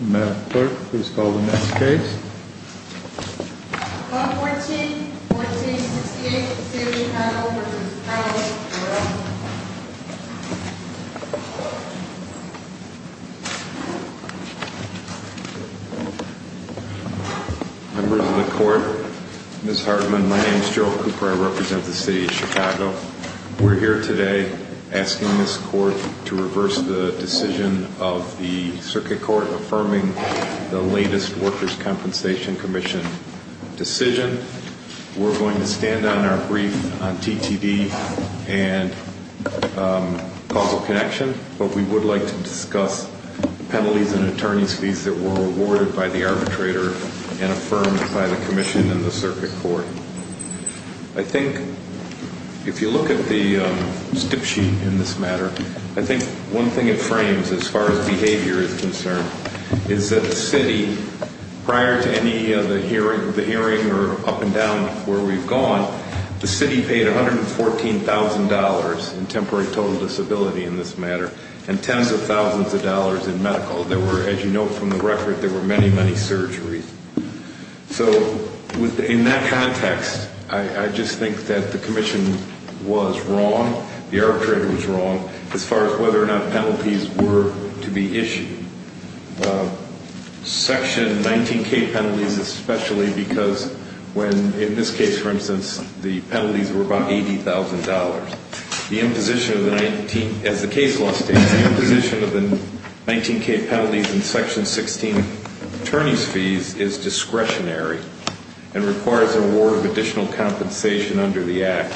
Madam Clerk, please call the next case. Bill 14-1468, City of Chicago v. Hardman. Members of the Court, Ms. Hardman, my name is Joe Cooper, I represent the City of Chicago. We're here today asking this Court to reverse the decision of the Circuit Court affirming the latest Workers' Compensation Commission decision. We're going to stand on our brief on TTD and causal connection, but we would like to discuss penalties and attorney's fees that were awarded by the arbitrator and affirmed by the Commission and the Circuit Court. I think if you look at the stip sheet in this matter, I think one thing it frames as far as behavior is concerned is that the City, prior to any of the hearing or up and down where we've gone, the City paid $114,000 in temporary total disability in this matter and tens of thousands of dollars in medical. There were, as you know from the record, there were many, many surgeries. So in that context, I just think that the Commission was wrong, the arbitrator was wrong, as far as whether or not penalties were to be issued. Section 19K penalties especially because when, in this case for instance, the penalties were about $80,000. The imposition of the 19, as the case law states, the imposition of the 19K penalties in Section 16 attorney's fees is discretionary and requires an award of additional compensation under the Act.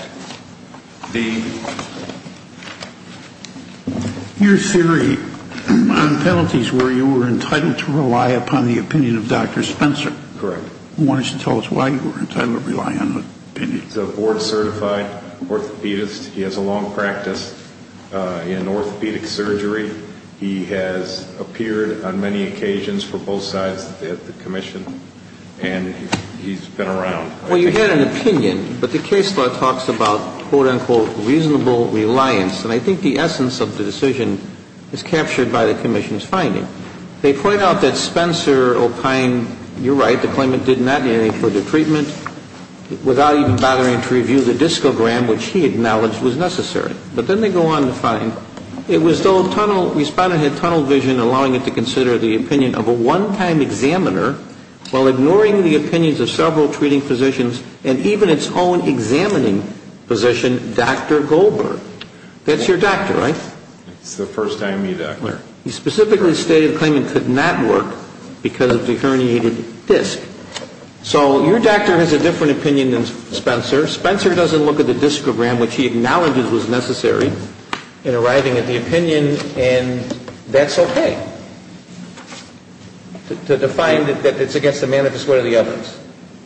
Your theory on penalties were you were entitled to rely upon the opinion of Dr. Spencer. Correct. I want you to tell us why you were entitled to rely on the opinion. He's a board-certified orthopedist. He has a long practice in orthopedic surgery. He has appeared on many occasions for both sides of the Commission, and he's been around. Well, you had an opinion, but the case law talks about, quote, unquote, reasonable reliance, and I think the essence of the decision is captured by the Commission's finding. They point out that Spencer opined, you're right, the claimant did not need any further treatment without even bothering to review the discogram, which he acknowledged was necessary. But then they go on to find it was though a tunnel, the respondent had tunnel vision allowing him to consider the opinion of a one-time examiner while ignoring the opinions of several treating physicians and even its own examining physician, Dr. Goldberg. That's your doctor, right? It's the first IME doctor. He specifically stated the claimant could not work because of the herniated disc. So your doctor has a different opinion than Spencer. Spencer doesn't look at the discogram, which he acknowledges was necessary in arriving at the opinion, and that's okay to define that it's against the manifest way of the evidence.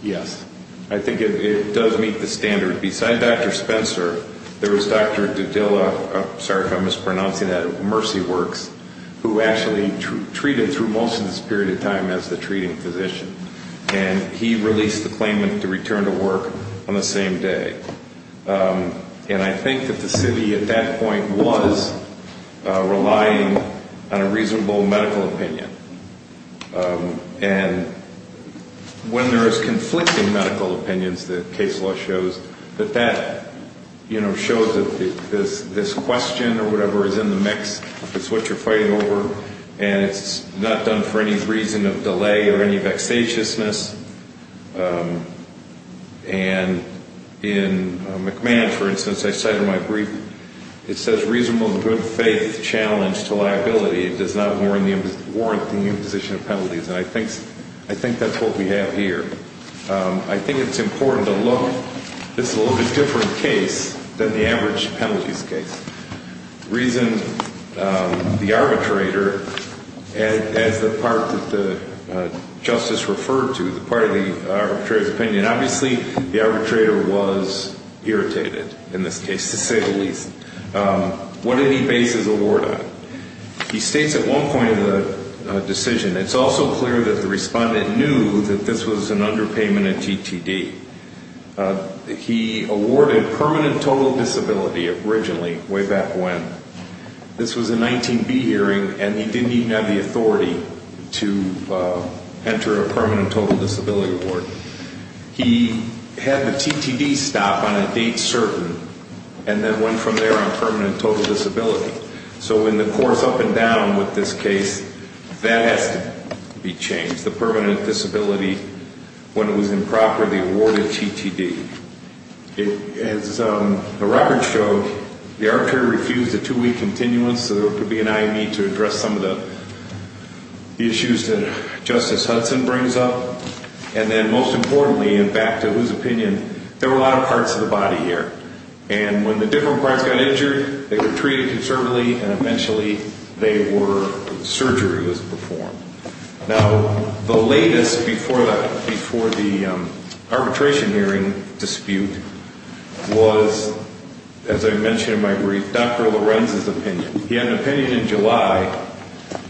Yes. I think it does meet the standard. Besides Dr. Spencer, there was Dr. DiDilla, sorry if I'm mispronouncing that, of Mercy Works, who actually treated through most of this period of time as the treating physician, and he released the claimant to return to work on the same day. And I think that the city at that point was relying on a reasonable medical opinion. And when there is conflicting medical opinions, the case law shows that that shows that this question or whatever is in the mix, it's what you're fighting over, and it's not done for any reason of delay or any vexatiousness. And in McMahon, for instance, I cited in my brief, it says reasonable good faith challenge to liability. It does not warrant the imposition of penalties, and I think that's what we have here. I think it's important to look. This is a little bit different case than the average penalties case. The reason the arbitrator, as the part that the justice referred to, the part of the arbitrator's opinion, obviously the arbitrator was irritated in this case, to say the least. What did he base his award on? He states at one point in the decision, it's also clear that the respondent knew that this was an underpayment of TTD. He awarded permanent total disability originally, way back when. This was a 19B hearing, and he didn't even have the authority to enter a permanent total disability award. He had the TTD stop on a date certain, and then went from there on permanent total disability. So in the course up and down with this case, that has to be changed. The permanent disability when it was improperly awarded TTD. As the records show, the arbitrator refused a two-week continuance, so there could be an IME to address some of the issues that Justice Hudson brings up. And then most importantly, and back to his opinion, there were a lot of parts of the body here. And when the different parts got injured, they were treated conservatively, and eventually surgery was performed. Now, the latest before the arbitration hearing dispute was, as I mentioned in my brief, Dr. Lorenz's opinion. He had an opinion in July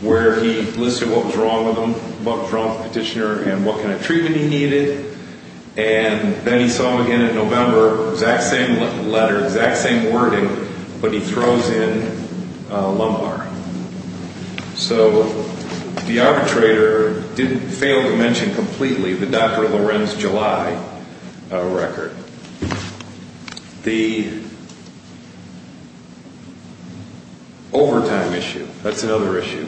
where he listed what was wrong with the petitioner and what kind of treatment he needed. And then he saw him again in November, exact same letter, exact same wording, but he throws in a lumbar. So the arbitrator didn't fail to mention completely the Dr. Lorenz July record. The overtime issue, that's another issue.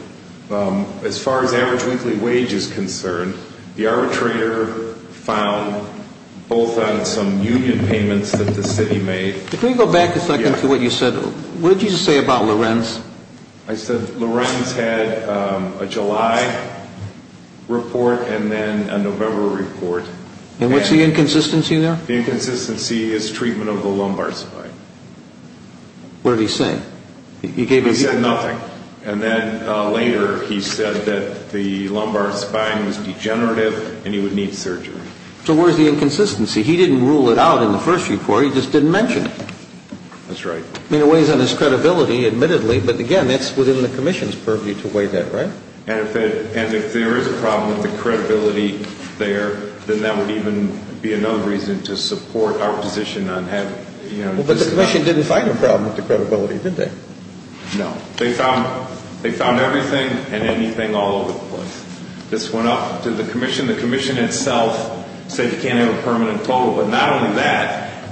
As far as average weekly wage is concerned, the arbitrator found both on some union payments that the city made. Can we go back a second to what you said? What did you say about Lorenz? I said Lorenz had a July report and then a November report. And what's the inconsistency there? The inconsistency is treatment of the lumbar spine. What did he say? He said nothing. And then later he said that the lumbar spine was degenerative and he would need surgery. So where's the inconsistency? He didn't rule it out in the first report. He just didn't mention it. That's right. I mean, it weighs on his credibility, admittedly, but again, that's within the commission's purview to weigh that, right? And if there is a problem with the credibility there, then that would even be another reason to support our position on having, you know, Well, but the commission didn't find a problem with the credibility, did they? This went up to the commission. The commission itself said you can't have a permanent total. But not only that,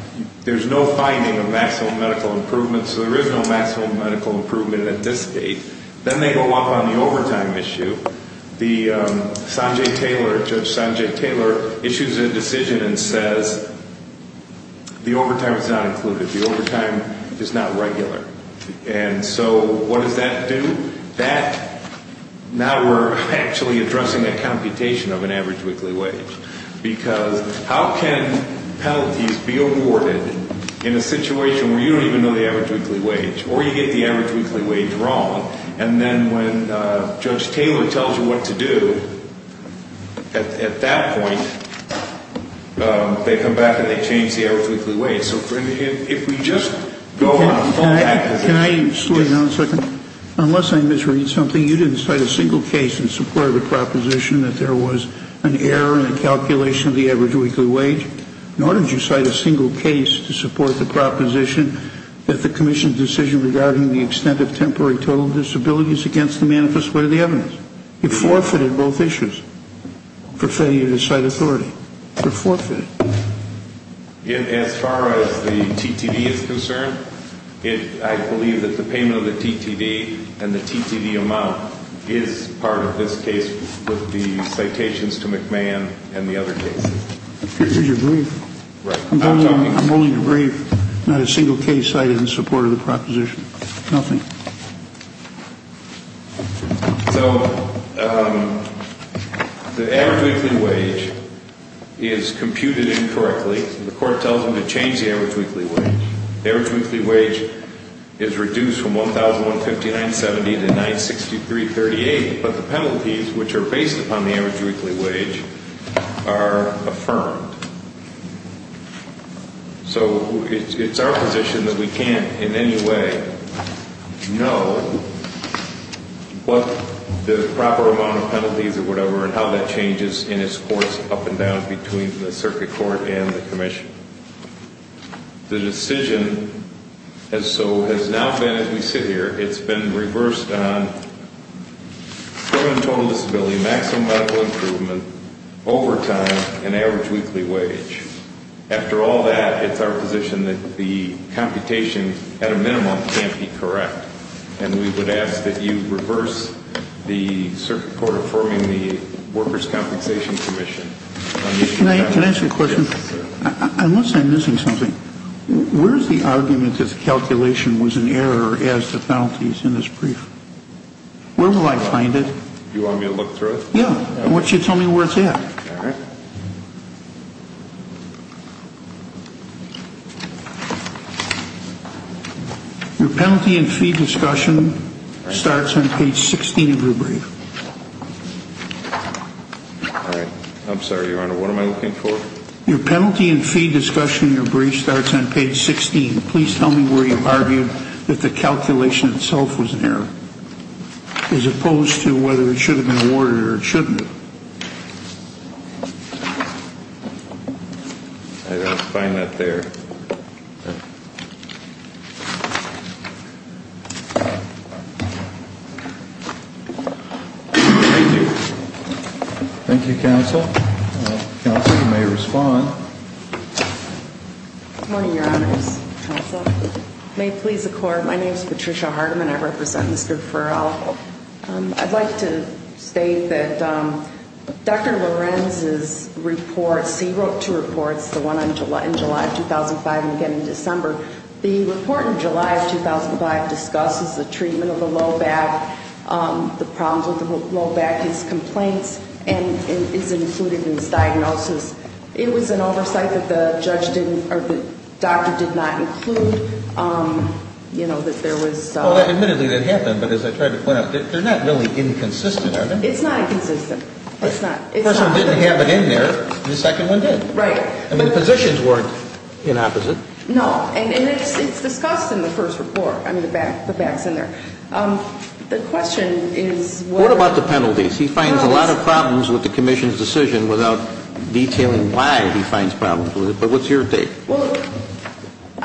there's no finding of maximum medical improvement. So there is no maximum medical improvement at this date. Then they go up on the overtime issue. The Sanjay Taylor, Judge Sanjay Taylor, issues a decision and says the overtime is not included. The overtime is not regular. And so what does that do? Now we're actually addressing a computation of an average weekly wage. Because how can penalties be awarded in a situation where you don't even know the average weekly wage? Or you get the average weekly wage wrong. And then when Judge Taylor tells you what to do, at that point, they come back and they change the average weekly wage. Can I slow you down a second? Unless I misread something, you didn't cite a single case in support of the proposition that there was an error in the calculation of the average weekly wage. Nor did you cite a single case to support the proposition that the commission's decision regarding the extent of temporary total disability is against the manifest way of the evidence. You forfeited both issues for failure to cite authority. You forfeited. As far as the T.T.V. is concerned, I believe that the payment of the T.T.V. and the T.T.V. amount is part of this case with the citations to McMahon and the other cases. I'm only brief. Not a single case cited in support of the proposition. Nothing. So, the average weekly wage is computed incorrectly. The court tells them to change the average weekly wage. The average weekly wage is reduced from $1,159.70 to $963.38. But the penalties, which are based upon the average weekly wage, are affirmed. So, it's our position that we can't in any way know what the proper amount of penalties or whatever and how that changes in its course up and down between the circuit court and the commission. The decision, as so has now been, as we sit here, it's been reversed on permanent total disability, maximum medical improvement, overtime, and average weekly wage. After all that, it's our position that the computation, at a minimum, can't be correct. And we would ask that you reverse the circuit court affirming the workers' compensation commission. Can I ask a question? Unless I'm missing something, where's the argument that the calculation was an error as to penalties in this brief? Where will I find it? You want me to look through it? Yeah. Why don't you tell me where it's at? All right. Your penalty and fee discussion starts on page 16 of your brief. All right. I'm sorry, Your Honor. What am I looking for? Your penalty and fee discussion in your brief starts on page 16. Please tell me where you've argued that the calculation itself was an error as opposed to whether it should have been awarded or it shouldn't have. I don't find that there. Thank you. Thank you, Counsel. Counsel, you may respond. Good morning, Your Honors. Counsel, may it please the Court, my name is Patricia Hardeman. I represent Mr. Farrell. I'd like to state that Dr. Lorenz's reports, he wrote two reports, the one in July of 2005 and again in December. The report in July of 2005 discusses the treatment of the low back, the problems with the low back, his complaints, and is included in his diagnosis. It was an oversight that the judge didn't, or the doctor did not include, you know, that there was. Well, admittedly, that happened, but as I tried to point out, they're not really inconsistent, are they? It's not inconsistent. The first one didn't have it in there and the second one did. Right. I mean, the positions weren't in opposite. No. And it's discussed in the first report. I mean, the back's in there. The question is what. What about the penalties? He finds a lot of problems with the commission's decision without detailing why he finds problems with it, but what's your take? Well,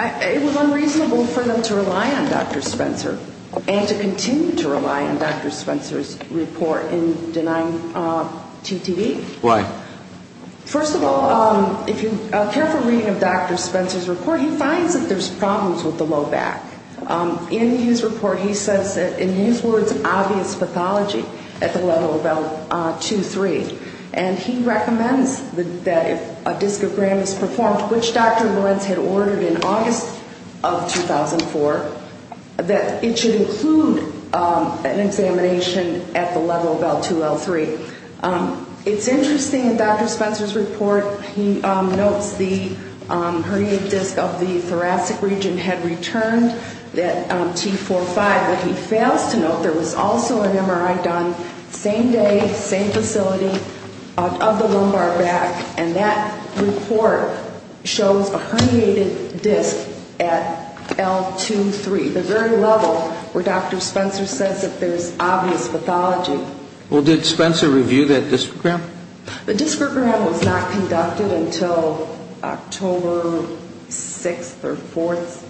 it was unreasonable for them to rely on Dr. Spencer and to continue to rely on Dr. Spencer's report in denying TTV. Why? First of all, if you're careful reading of Dr. Spencer's report, he finds that there's problems with the low back. In his report, he says that, in his words, obvious pathology at the level of L2-L3, and he recommends that if a discogram is performed, which Dr. Lorenz had ordered in August of 2004, that it should include an examination at the level of L2-L3. It's interesting, in Dr. Spencer's report, he notes the herniated disc of the thoracic region had returned at T4-5, but he fails to note there was also an MRI done same day, same facility, of the lumbar back, and that report shows a herniated disc at L2-3, the very level where Dr. Spencer says that there's obvious pathology. Well, did Spencer review that discogram? The discogram was not conducted until October 6th or 4th.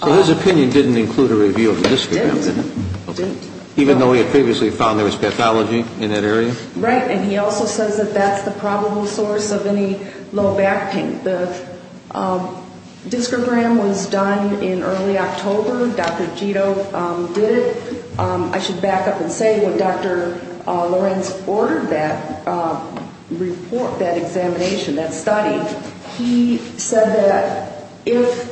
So his opinion didn't include a review of the discogram, did it? It didn't. Even though he had previously found there was pathology in that area? Right, and he also says that that's the probable source of any low back pain. The discogram was done in early October. Dr. Gito did it. I should back up and say, when Dr. Lorenz ordered that report, that examination, that study, he said that if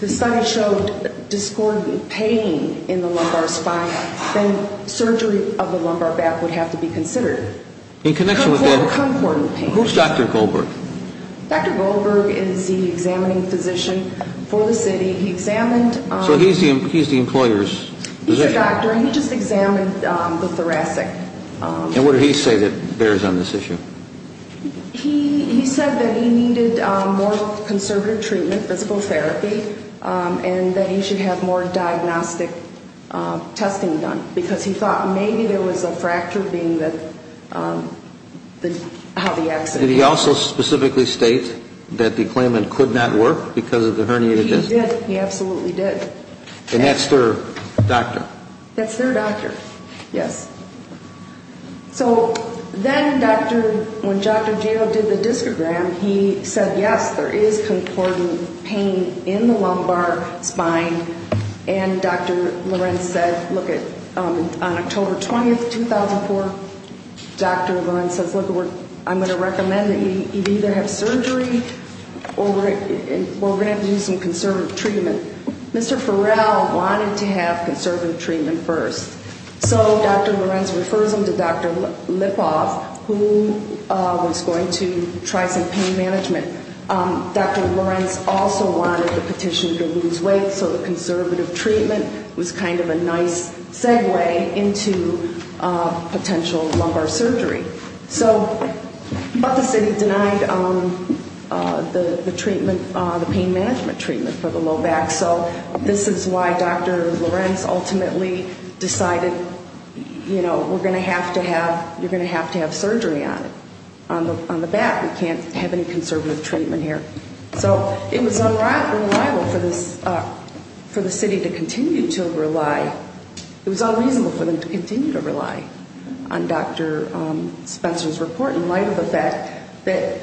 the study showed discordant pain in the lumbar spine, then surgery of the lumbar back would have to be considered. In connection with that? Concordant pain. Who's Dr. Goldberg? Dr. Goldberg is the examining physician for the city. He examined... So he's the employer's physician? He's a doctor, and he just examined the thoracic. And what did he say that bears on this issue? He said that he needed more conservative treatment, physical therapy, and that he should have more diagnostic testing done, because he thought maybe there was a fracture being how the accident... Did he also specifically state that the claimant could not work because of the herniated disc? He did. He absolutely did. And that's their doctor? That's their doctor, yes. So then when Dr. Gito did the discogram, he said, yes, there is concordant pain in the lumbar spine. And Dr. Lorenz said, look, on October 20, 2004, Dr. Lorenz says, look, I'm going to recommend that you either have surgery or we're going to have to do some conservative treatment. And Mr. Farrell wanted to have conservative treatment first. So Dr. Lorenz refers him to Dr. Lipov, who was going to try some pain management. Dr. Lorenz also wanted the petition to lose weight, so the conservative treatment was kind of a nice segue into potential lumbar surgery. So, but the city denied the treatment, the pain management treatment for the low back. So this is why Dr. Lorenz ultimately decided, you know, we're going to have to have, you're going to have to have surgery on it, on the back. We can't have any conservative treatment here. So it was unreliable for the city to continue to rely. It was unreasonable for them to continue to rely on Dr. Spencer's report in light of the fact that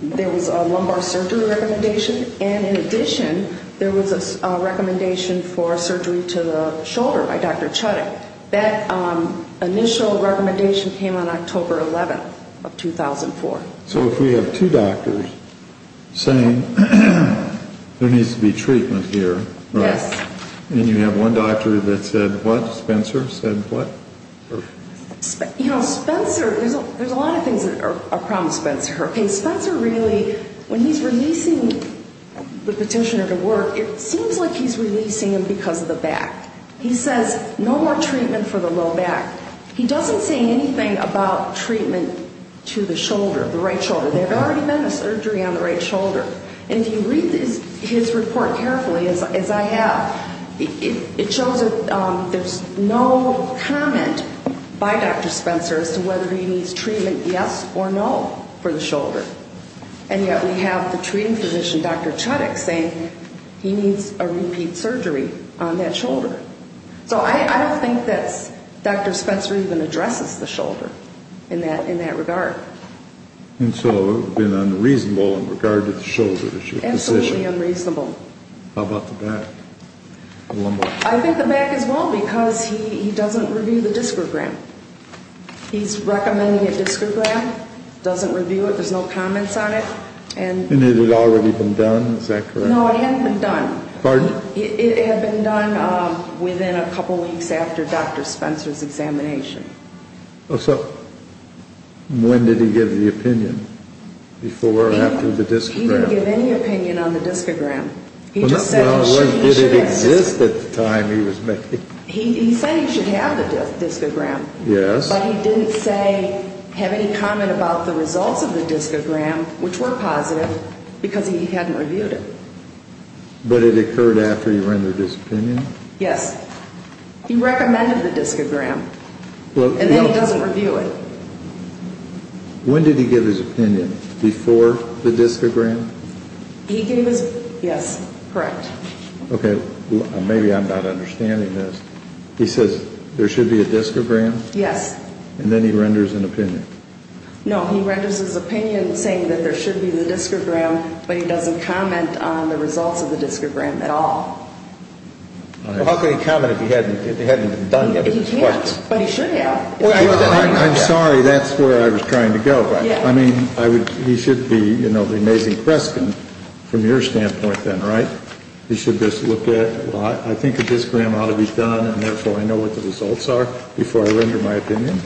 there was a lumbar surgery recommendation. And in addition, there was a recommendation for surgery to the shoulder by Dr. Chutick. That initial recommendation came on October 11 of 2004. So if we have two doctors saying there needs to be treatment here, right? Yes. And you have one doctor that said what? Spencer said what? You know, Spencer, there's a lot of things that are a problem with Spencer. Okay, Spencer really, when he's releasing the petitioner to work, it seems like he's releasing him because of the back. He says no more treatment for the low back. He doesn't say anything about treatment to the shoulder, the right shoulder. There had already been a surgery on the right shoulder. And if you read his report carefully, as I have, it shows there's no comment by Dr. Spencer as to whether he needs treatment yes or no for the shoulder. And yet we have the treating physician, Dr. Chutick, saying he needs a repeat surgery on that shoulder. So I don't think that Dr. Spencer even addresses the shoulder in that regard. And so it would have been unreasonable in regard to the shoulder, is your position? Absolutely unreasonable. How about the back? I think the back is wrong because he doesn't review the discogram. He's recommending a discogram, doesn't review it, there's no comments on it. And it had already been done, is that correct? No, it hadn't been done. Pardon? It had been done within a couple weeks after Dr. Spencer's examination. Oh, so when did he give the opinion? Before or after the discogram? He didn't give any opinion on the discogram. He just said he should. Well, did it exist at the time he was making it? He said he should have the discogram. Yes. But he didn't say, have any comment about the results of the discogram, which were positive, because he hadn't reviewed it. But it occurred after he rendered his opinion? Yes. He recommended the discogram. And then he doesn't review it. When did he give his opinion? Before the discogram? He gave his, yes, correct. Okay. Maybe I'm not understanding this. He says there should be a discogram? Yes. And then he renders an opinion. No, he renders his opinion saying that there should be the discogram, but he doesn't comment on the results of the discogram at all. Well, how could he comment if he hadn't done it? He can't, but he should have. I'm sorry. That's where I was trying to go. I mean, he should be, you know, the amazing question from your standpoint then, right? He should just look at, well, I think a discogram ought to be done, and therefore I know what the results are before I render my opinion?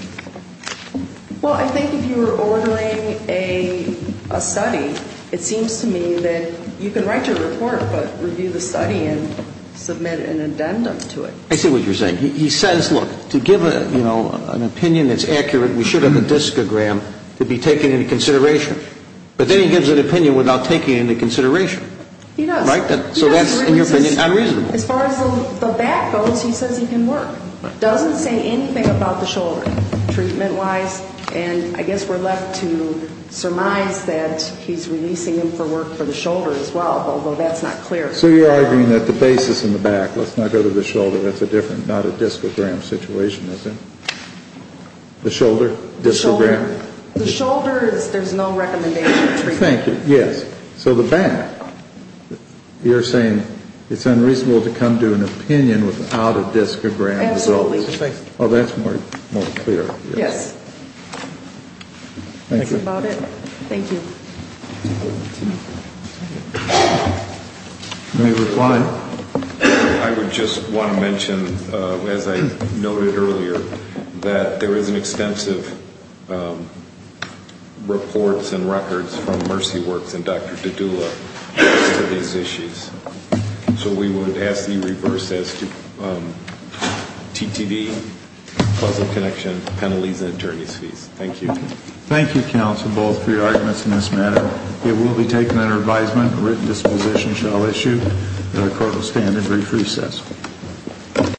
Well, I think if you were ordering a study, it seems to me that you can write your report but review the study and submit an addendum to it. I see what you're saying. He says, look, to give, you know, an opinion that's accurate, we should have a discogram to be taken into consideration. But then he gives an opinion without taking it into consideration. He does. Right? So that's, in your opinion, unreasonable. As far as the back goes, he says he can work. Doesn't say anything about the shoulder treatment-wise. And I guess we're left to surmise that he's releasing him for work for the shoulder as well, although that's not clear. So you're arguing that the basis in the back, let's not go to the shoulder, that's a different, not a discogram situation, is it? The shoulder? The shoulder. The shoulder, there's no recommendation of treatment. Thank you. Yes. So the back, you're saying it's unreasonable to come to an opinion without a discogram. Absolutely. Oh, that's more clear. Yes. Thank you. That's about it. Thank you. Any reply? I would just want to mention, as I noted earlier, that there is an extensive reports and records from Mercy Works and Dr. Dodula for these issues. So we would ask that you reverse this to TTD, Puzzle Connection, penalties, and attorney's fees. Thank you. Thank you, counsel, both for your arguments in this matter. It will be taken under advisement, written disposition shall issue, that the court will stand in brief recess.